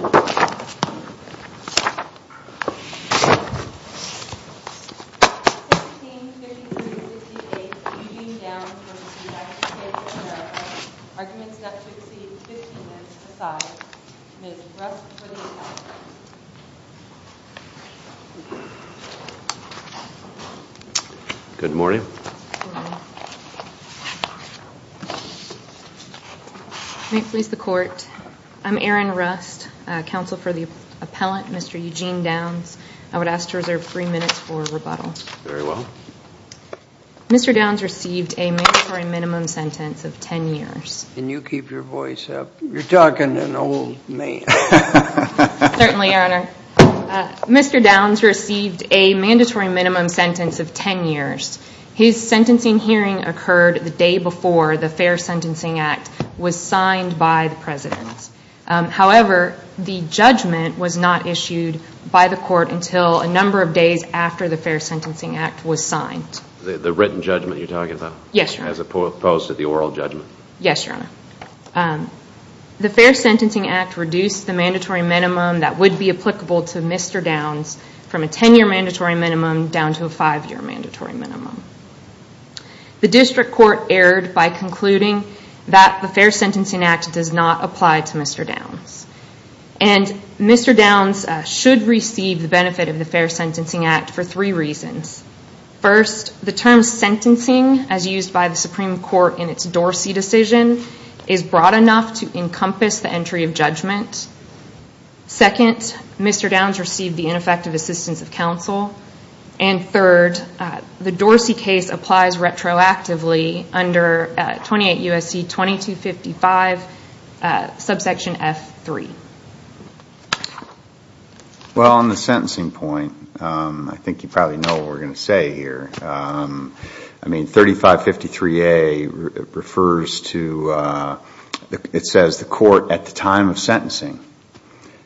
of America, Arguments Not to Exceed 15 Minutes Aside. Ms. Rust Williams. Good morning. Good morning. Counsel for the appellant, Mr. Eugene Downs. I would ask to reserve three minutes for rebuttal. Very well. Mr. Downs received a mandatory minimum sentence of ten years. Can you keep your voice up? You're talking to an old man. Certainly, Your Honor. Mr. Downs received a mandatory minimum sentence of ten years. His sentencing hearing occurred the day before the Fair Sentencing Act was signed by the President. However, the judgment was not issued by the court until a number of days after the Fair Sentencing Act was signed. The written judgment you're talking about? Yes, Your Honor. As opposed to the oral judgment? Yes, Your Honor. The Fair Sentencing Act reduced the mandatory minimum that would be applicable to Mr. Downs from a ten-year mandatory minimum down to a five-year mandatory minimum. The district court erred by concluding that the Fair Sentencing Act does not apply to Mr. Downs. And Mr. Downs should receive the benefit of the Fair Sentencing Act for three reasons. First, the term sentencing as used by the Supreme Court in its Dorsey decision is broad enough to encompass the entry of judgment. Second, Mr. Downs received the ineffective assistance of counsel. And third, the Dorsey case applies retroactively under 28 U.S.C. 2255, subsection F3. Well, on the sentencing point, I think you probably know what we're going to say here. I mean, 3553A refers to, it says the court at the time of sentencing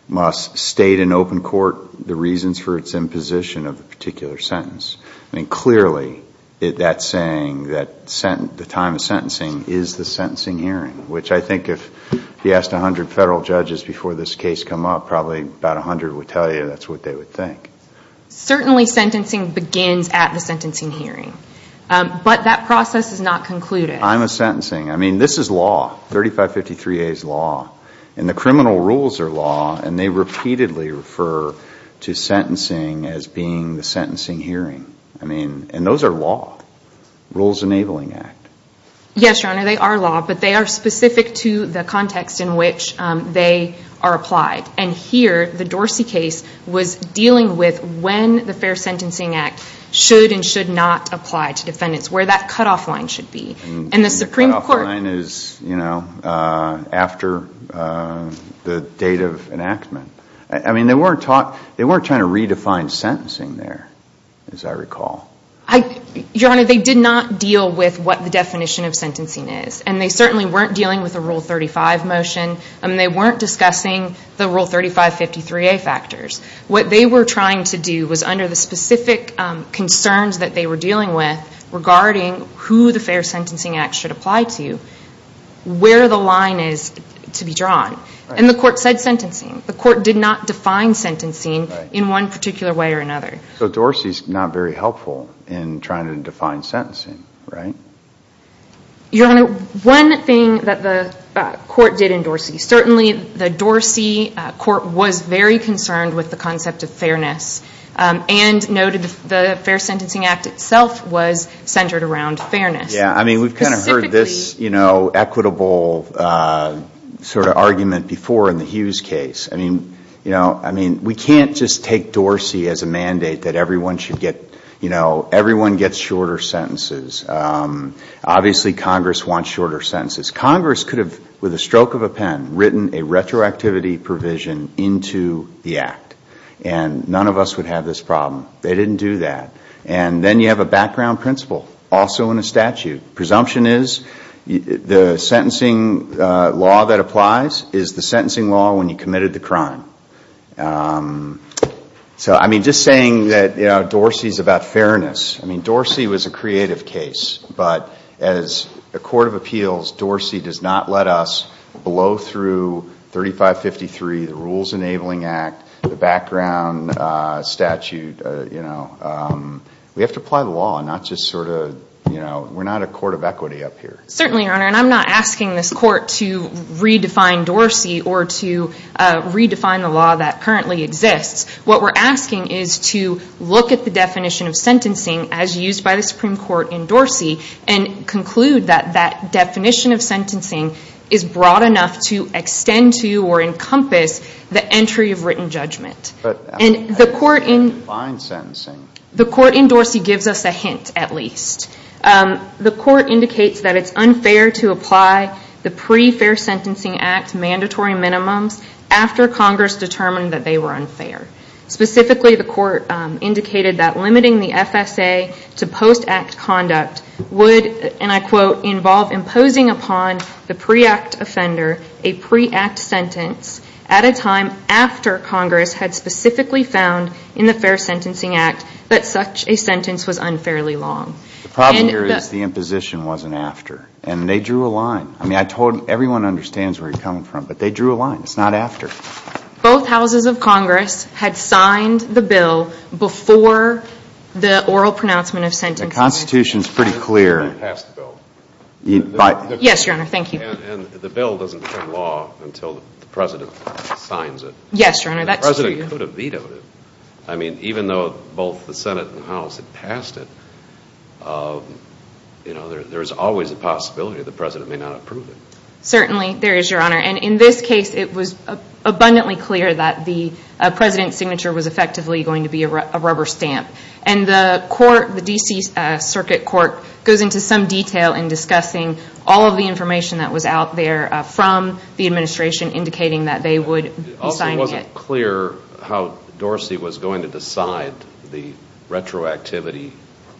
must state in open court the reasons for its imposition of the particular sentence. I mean, clearly, that's saying that the time of sentencing is the sentencing hearing, which I think if you asked 100 federal judges before this case come up, probably about 100 would tell you that's what they would think. Certainly, sentencing begins at the sentencing hearing. But that process is not concluded. I'm a sentencing. I mean, this is law. 3553A is law. And the criminal rules are law. And they repeatedly refer to sentencing as being the sentencing hearing. I mean, and those are law. Rules Enabling Act. Yes, Your Honor, they are law. But they are specific to the context in which they are applied. And here, the Dorsey case was dealing with when the Fair Sentencing Act should and should not apply to defendants, where that cutoff line should be. And the cutoff line is, you know, after the date of enactment. I mean, they weren't trying to redefine sentencing there, as I recall. Your Honor, they did not deal with what the definition of sentencing is. And they certainly weren't dealing with a Rule 35 motion. I mean, they weren't discussing the Rule 3553A factors. What they were trying to do was under the specific concerns that they were dealing with regarding who the Fair Sentencing Act should apply to, where the line is to be drawn. And the court said sentencing. The court did not define sentencing in one particular way or another. So Dorsey is not very helpful in trying to define sentencing, right? Your Honor, one thing that the court did in Dorsey, certainly the Dorsey court was very concerned with the concept of fairness and noted the Fair Sentencing Act itself was centered around fairness. Yeah. I mean, we've kind of heard this, you know, equitable sort of argument before in the Hughes case. I mean, you know, I mean, we can't just take Dorsey as a mandate that everyone should get, you know, everyone gets shorter sentences. Obviously, Congress wants shorter sentences. Congress could have, with a stroke of a pen, written a retroactivity provision into the Act. And none of us would have this problem. They didn't do that. And then you have a background principle, also in a statute. Presumption is the sentencing law that applies is the sentencing law when you committed the crime. So, I mean, just saying that, you know, Dorsey is about fairness. I mean, Dorsey was a creative case. But as a court of appeals, Dorsey does not let us blow through 3553, the Rules Enabling Act, the background statute, you know. We have to apply the law, not just sort of, you know, we're not a court of equity up here. Certainly, Your Honor. And I'm not asking this court to redefine Dorsey or to redefine the law that currently exists. What we're asking is to look at the definition of sentencing as used by the Supreme Court in Dorsey and conclude that that definition of sentencing is broad enough to extend to or encompass the entry of written judgment. But that doesn't define sentencing. The court in Dorsey gives us a hint, at least. The court indicates that it's unfair to apply the Pre-Fair Sentencing Act mandatory minimums after Congress determined that they were unfair. Specifically, the court indicated that limiting the FSA to post-act conduct would, and I quote, involve imposing upon the pre-act offender a pre-act sentence at a time after Congress had specifically found in the Fair Sentencing Act that such a sentence was unfairly long. The problem here is the imposition wasn't after. And they drew a line. I mean, I told everyone understands where you're coming from, but they drew a line. It's not after. Both houses of Congress had signed the bill before the oral pronouncement of sentencing. The Constitution's pretty clear. They passed the bill. Yes, Your Honor, thank you. And the bill doesn't become law until the President signs it. Yes, Your Honor, that's true. The President could have vetoed it. I mean, even though both the Senate and the House had passed it, you know, there's always a possibility the President may not approve it. Certainly, there is, Your Honor. And in this case, it was abundantly clear that the President's signature was effectively going to be a rubber stamp. And the court, the D.C. Circuit Court, goes into some detail in discussing all of the information that was out there from the administration indicating that they would be signing it. It also wasn't clear how Dorsey was going to decide the retroactivity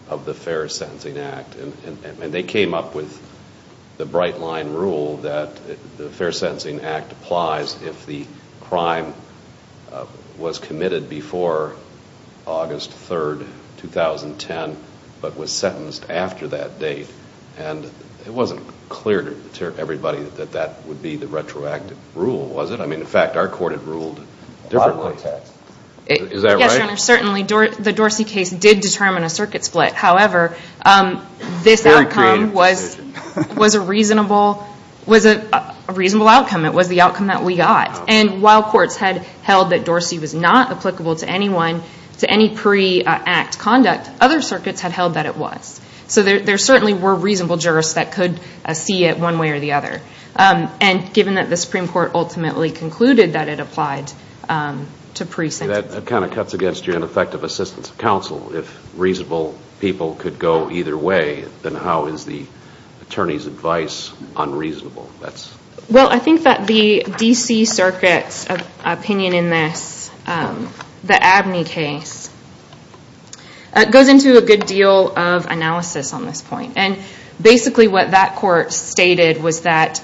of the Fair Sentencing Act. And they came up with the bright-line rule that the Fair Sentencing Act applies if the crime was committed before August 3, 2010, but was sentenced after that date. And it wasn't clear to everybody that that would be the retroactive rule, was it? I mean, in fact, our court had ruled differently. A lot of context. Is that right? Yes, Your Honor. Certainly, the Dorsey case did determine a circuit split. However, this outcome was a reasonable outcome. It was the outcome that we got. And while courts had held that Dorsey was not applicable to anyone, to any pre-act conduct, other circuits had held that it was. So there certainly were reasonable jurists that could see it one way or the other. And given that the Supreme Court ultimately concluded that it applied to pre-sentence. That kind of cuts against your ineffective assistance of counsel. If reasonable people could go either way, then how is the attorney's advice unreasonable? Well, I think that the D.C. Circuit's opinion in this, the Abney case, goes into a good deal of analysis on this point. And basically what that court stated was that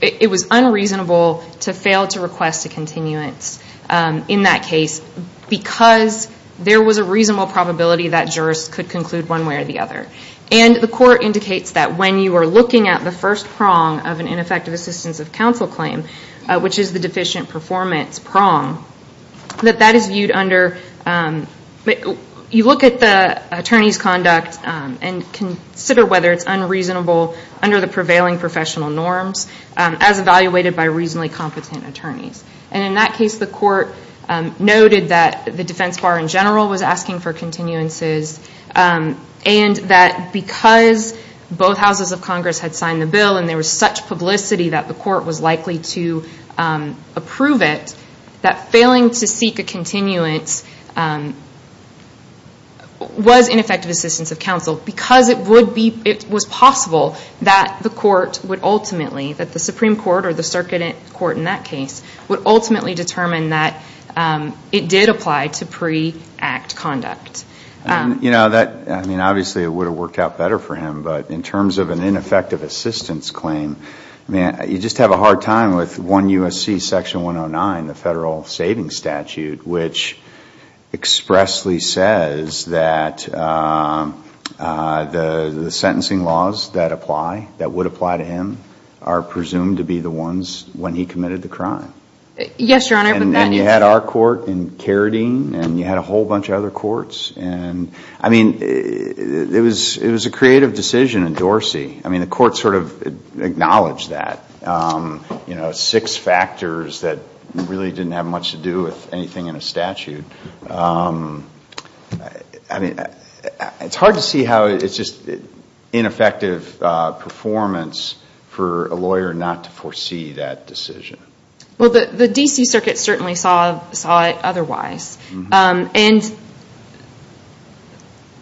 it was unreasonable to fail to request a continuance in that case because there was a reasonable probability that jurists could conclude one way or the other. And the court indicates that when you are looking at the first prong of an ineffective assistance of counsel claim, which is the deficient performance prong, that that is viewed under, you look at the attorney's conduct and consider whether it's unreasonable under the prevailing professional norms as evaluated by reasonably competent attorneys. And in that case, the court noted that the defense bar in general was asking for continuances and that because both houses of Congress had signed the bill and there was such publicity that the court was likely to approve it, that failing to seek a continuance was ineffective assistance of counsel because it was possible that the court would ultimately, that the Supreme Court or the circuit court in that case would ultimately determine that it did apply to pre-act conduct. I mean, obviously it would have worked out better for him, but in terms of an ineffective assistance claim, you just have a hard time with 1 U.S.C. Section 109, the Federal Savings Statute, which expressly says that the sentencing laws that apply, that would apply to him, are presumed to be the ones when he committed the crime. And you had our court in Carradine and you had a whole bunch of other courts. I mean, it was a creative decision in Dorsey. I mean, the court sort of acknowledged that, you know, six factors that really didn't have much to do with anything in a statute. I mean, it's hard to see how it's just ineffective performance for a lawyer not to foresee that decision. Well, the D.C. Circuit certainly saw it otherwise. And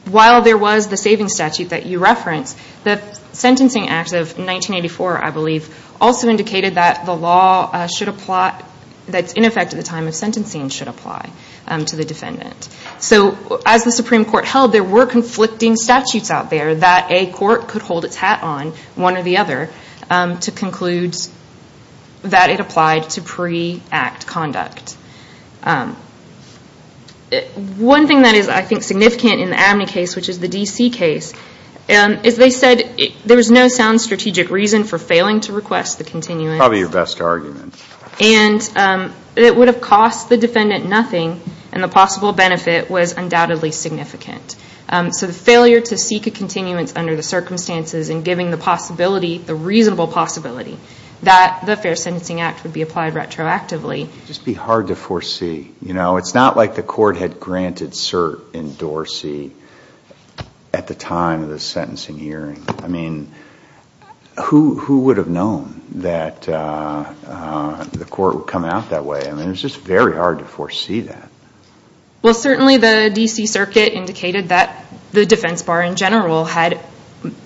while there was the savings statute that you referenced, the Sentencing Act of 1984, I believe, also indicated that the law should apply, that in effect at the time of sentencing should apply to the defendant. So as the Supreme Court held, there were conflicting statutes out there that a court could hold its hat on, one or the other, to conclude that it applied to pre-act conduct. One thing that is, I think, significant in the Abney case, which is the D.C. case, is they said there was no sound strategic reason for failing to request the continuance. Probably your best argument. And it would have cost the defendant nothing, and the possible benefit was undoubtedly significant. So the failure to seek a continuance under the circumstances and giving the possibility, the reasonable possibility, that the Fair Sentencing Act would be applied retroactively. It would just be hard to foresee. You know, it's not like the court had granted cert in Dorsey at the time of the sentencing hearing. I mean, who would have known that the court would come out that way? I mean, it's just very hard to foresee that. Well, certainly the D.C. circuit indicated that the defense bar in general had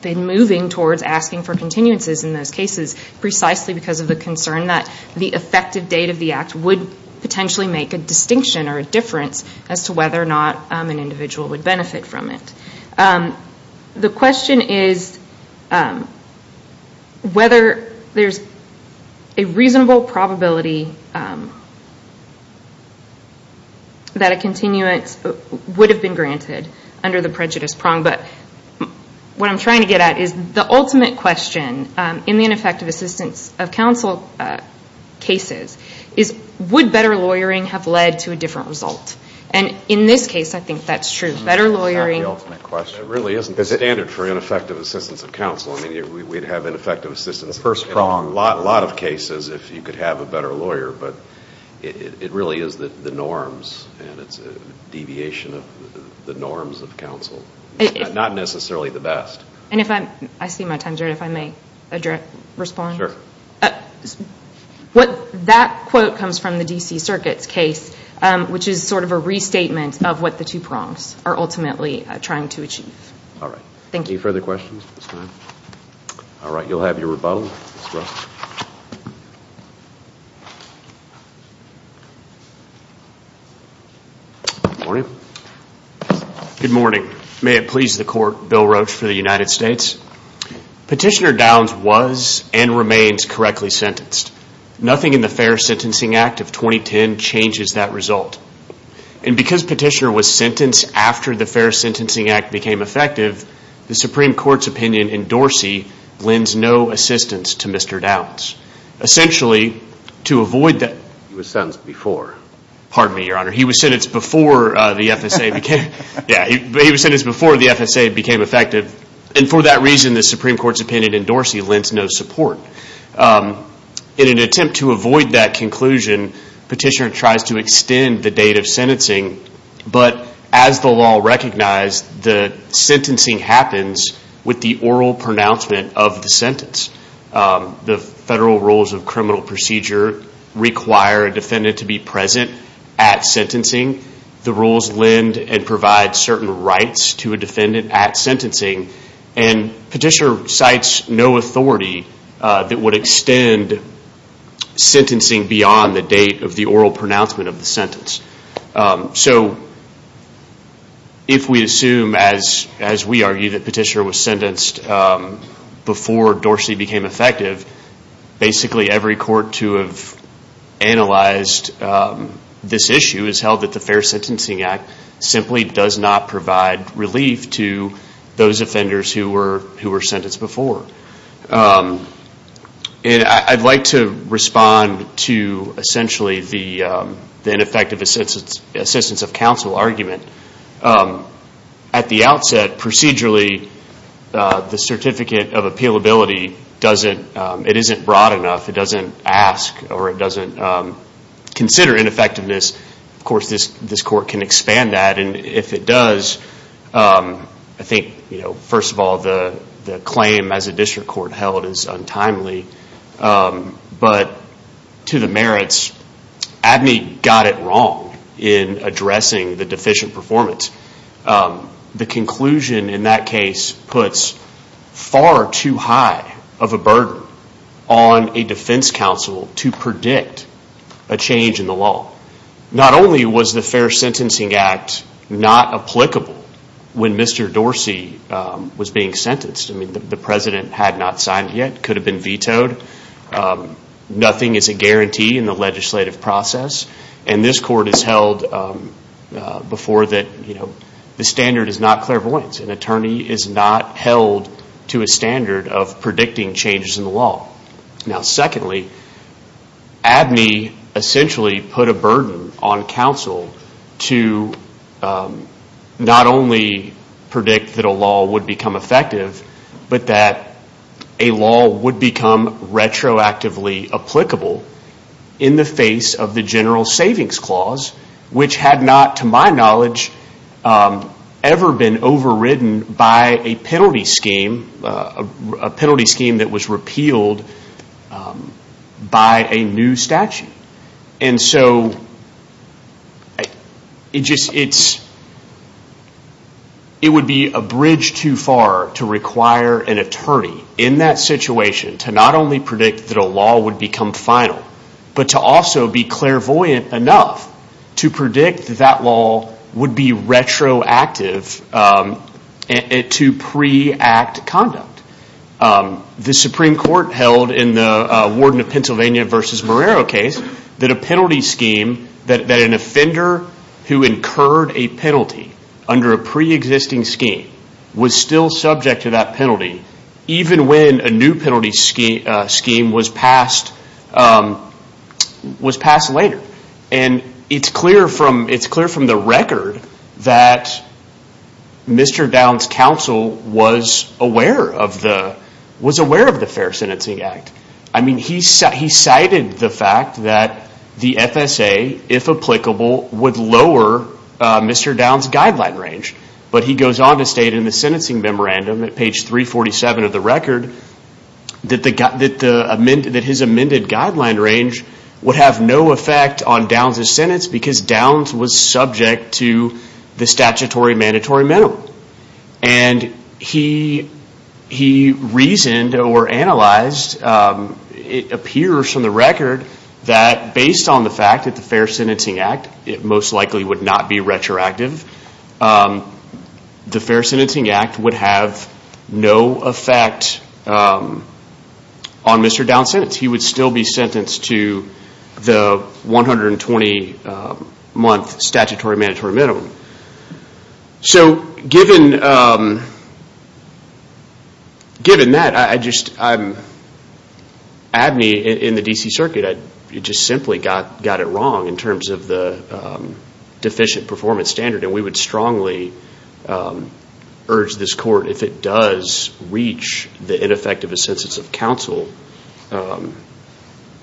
been moving towards asking for continuances in those cases, precisely because of the concern that the effective date of the act would potentially make a distinction or a difference as to whether or not an individual would benefit from it. The question is whether there's a reasonable probability that a continuance would have been granted under the prejudice prong. But what I'm trying to get at is the ultimate question in the ineffective assistance of counsel cases is would better lawyering have led to a different result? And in this case, I think that's true. That really isn't the standard for ineffective assistance of counsel. I mean, we'd have ineffective assistance in a lot of cases if you could have a better lawyer. But it really is the norms and it's a deviation of the norms of counsel. Not necessarily the best. That quote comes from the D.C. circuit's case, which is sort of a restatement of what the two prongs are ultimately trying to achieve. All right, you'll have your rebuttal. Good morning. May it please the Court, Bill Roach for the United States. Petitioner Downs was and remains correctly sentenced. Nothing in the Fair Sentencing Act of 2010 changes that result. And because Petitioner was sentenced after the Fair Sentencing Act became effective, the Supreme Court's opinion in Dorsey lends no assistance to Mr. Downs. Essentially, to avoid that... He was sentenced before the FSA became effective. And for that reason, the Supreme Court's opinion in Dorsey lends no support. In an attempt to avoid that conclusion, Petitioner tries to extend the date of sentencing. But as the law recognized, the sentencing happens with the oral pronouncement of the sentence. The federal rules of criminal procedure require a defendant to be present at sentencing. The rules lend and provide certain rights to a defendant at sentencing. And Petitioner cites no authority that would extend sentencing beyond the date of the oral pronouncement of the sentence. So if we assume, as we argue, that Petitioner was sentenced before Dorsey became effective, basically every court to have analyzed this issue has held that the Fair Sentencing Act simply does not provide relief to those offenders who were sentenced before. And I'd like to respond to essentially the ineffective assistance of counsel argument. At the outset, procedurally, the Certificate of Appealability doesn't... Of course, this court can expand that. And if it does, first of all, the claim as a district court held is untimely. But to the merits, Abney got it wrong in addressing the deficient performance. The conclusion in that case puts far too high of a burden on a defense counsel to predict a change in the law. Not only was the Fair Sentencing Act not applicable when Mr. Dorsey was being sentenced. I mean, the president had not signed yet, could have been vetoed. Nothing is a guarantee in the legislative process. And this court has held before that the standard is not clairvoyant. An attorney is not held to a standard of predicting changes in the law. Now, secondly, Abney essentially put a burden on counsel to not only predict that a law would become effective, but that a law would become retroactively applicable in the face of the General Savings Clause, which had not, to my knowledge, ever been overridden by a penalty scheme that was repealed by a new statute. And so it would be a bridge too far to require an attorney in that situation to not only predict that a law would become final, but to also be clairvoyant enough to predict that that law would be retroactive to pre-act conduct. The Supreme Court held in the Warden of Pennsylvania v. Morero case that a penalty scheme, that an offender who incurred a penalty under a pre-existing scheme was still passed later. And it's clear from the record that Mr. Downs' counsel was aware of the Fair Sentencing Act. I mean, he cited the fact that the FSA, if applicable, would lower Mr. Downs' guideline range. But he goes on to state in the sentencing memorandum at page 347 of the record that his amended guideline range would have no effect on Downs' sentence because Downs was subject to the statutory mandatory minimum. And he reasoned or analyzed, it appears from the record, that based on the fact that the Fair Sentencing Act most likely would not be retroactive, the Fair Sentencing Act would have no effect on Mr. Downs' sentence. He would still be sentenced to the 120-month statutory mandatory minimum. So given that, I'm admi in the D.C. performance standard, and we would strongly urge this court, if it does reach the ineffective assentence of counsel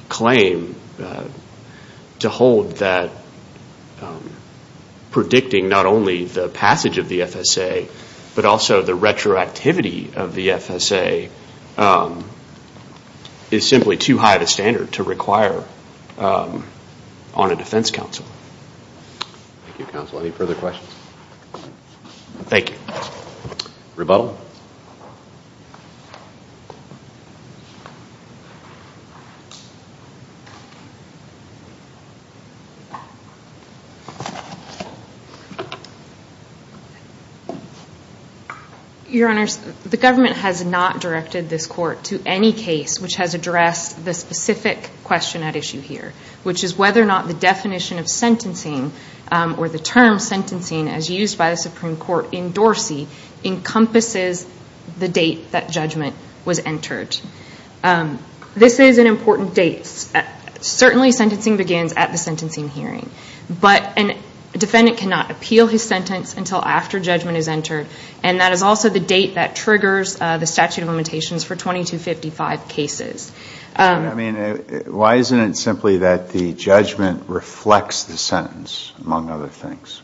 claim, to hold that predicting not only the passage of the FSA, but also the retroactivity of the FSA is simply too high of a standard to address the specific question at issue here, which is whether or not the definition of sentencing or the termination of address the specific question at issue. The term sentencing, as used by the Supreme Court in Dorsey, encompasses the date that judgment was entered. This is an important date. Certainly sentencing begins at the sentencing hearing. But a defendant cannot appeal his sentence until after judgment is entered, and that is also the date that triggers the statute of limitations for 2255 cases. I mean, why isn't it simply that the judgment reflects the sentence, among other things?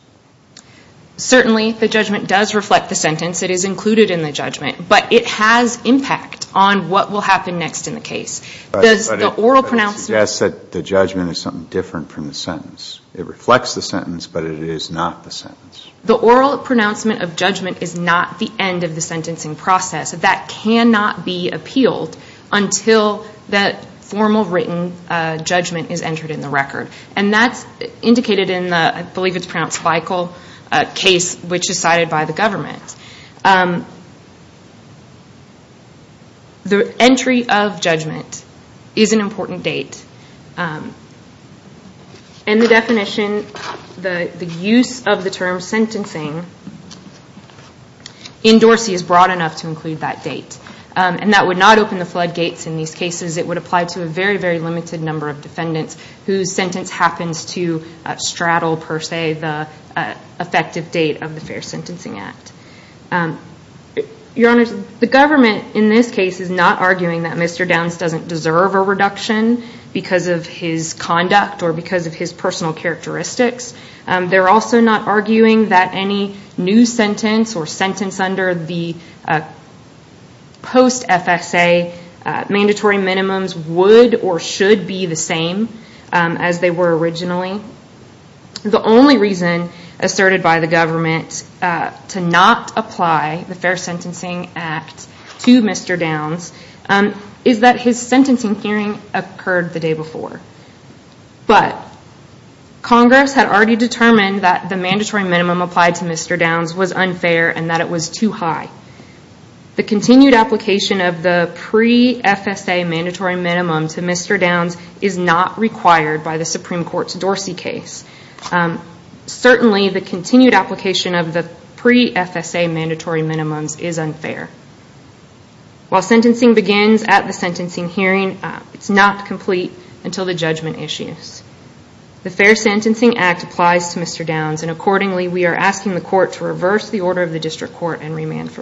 Certainly, the judgment does reflect the sentence. It is included in the judgment. But it has impact on what will happen next in the case. Does the oral pronouncement suggest that the judgment is something different from the sentence? It reflects the sentence, but it is not the sentence. The oral pronouncement of judgment is not the end of the sentencing process. That cannot be appealed until that formal written judgment is entered in the record. And that's indicated in the, I believe it's pronounced, Feichel case, which is cited by the government. The entry of judgment is an important date. And the definition, the use of the term sentencing in Dorsey is broad enough to include that date. And that would not open the floodgates in these cases. It would apply to a very, very limited number of defendants whose sentence happens to straddle, per se, the effective date of the Fair Sentencing Act. Your Honor, the government, in this case, is not arguing that Mr. Downs doesn't deserve a reduction because of his conduct or because of his personal characteristics. They're also not arguing that any new sentence or sentence under the post-FSA mandatory minimums would or should be the same as they were originally. The only reason asserted by the government to not apply the Fair Sentencing Act to Mr. Downs is that his sentencing hearing occurred the day before. But Congress had already determined that the mandatory minimum applied to Mr. Downs was unfair and that it was too high. The continued application of the pre-FSA mandatory minimum to Mr. Downs is not required by the Supreme Court's Dorsey case. Certainly the continued application of the pre-FSA mandatory minimums is unfair. While sentencing begins at the sentencing hearing, it's not complete until the judgment issues. The Fair Sentencing Act applies to Mr. Downs and accordingly we are asking the court to reverse the order of the district court and remand for resentencing.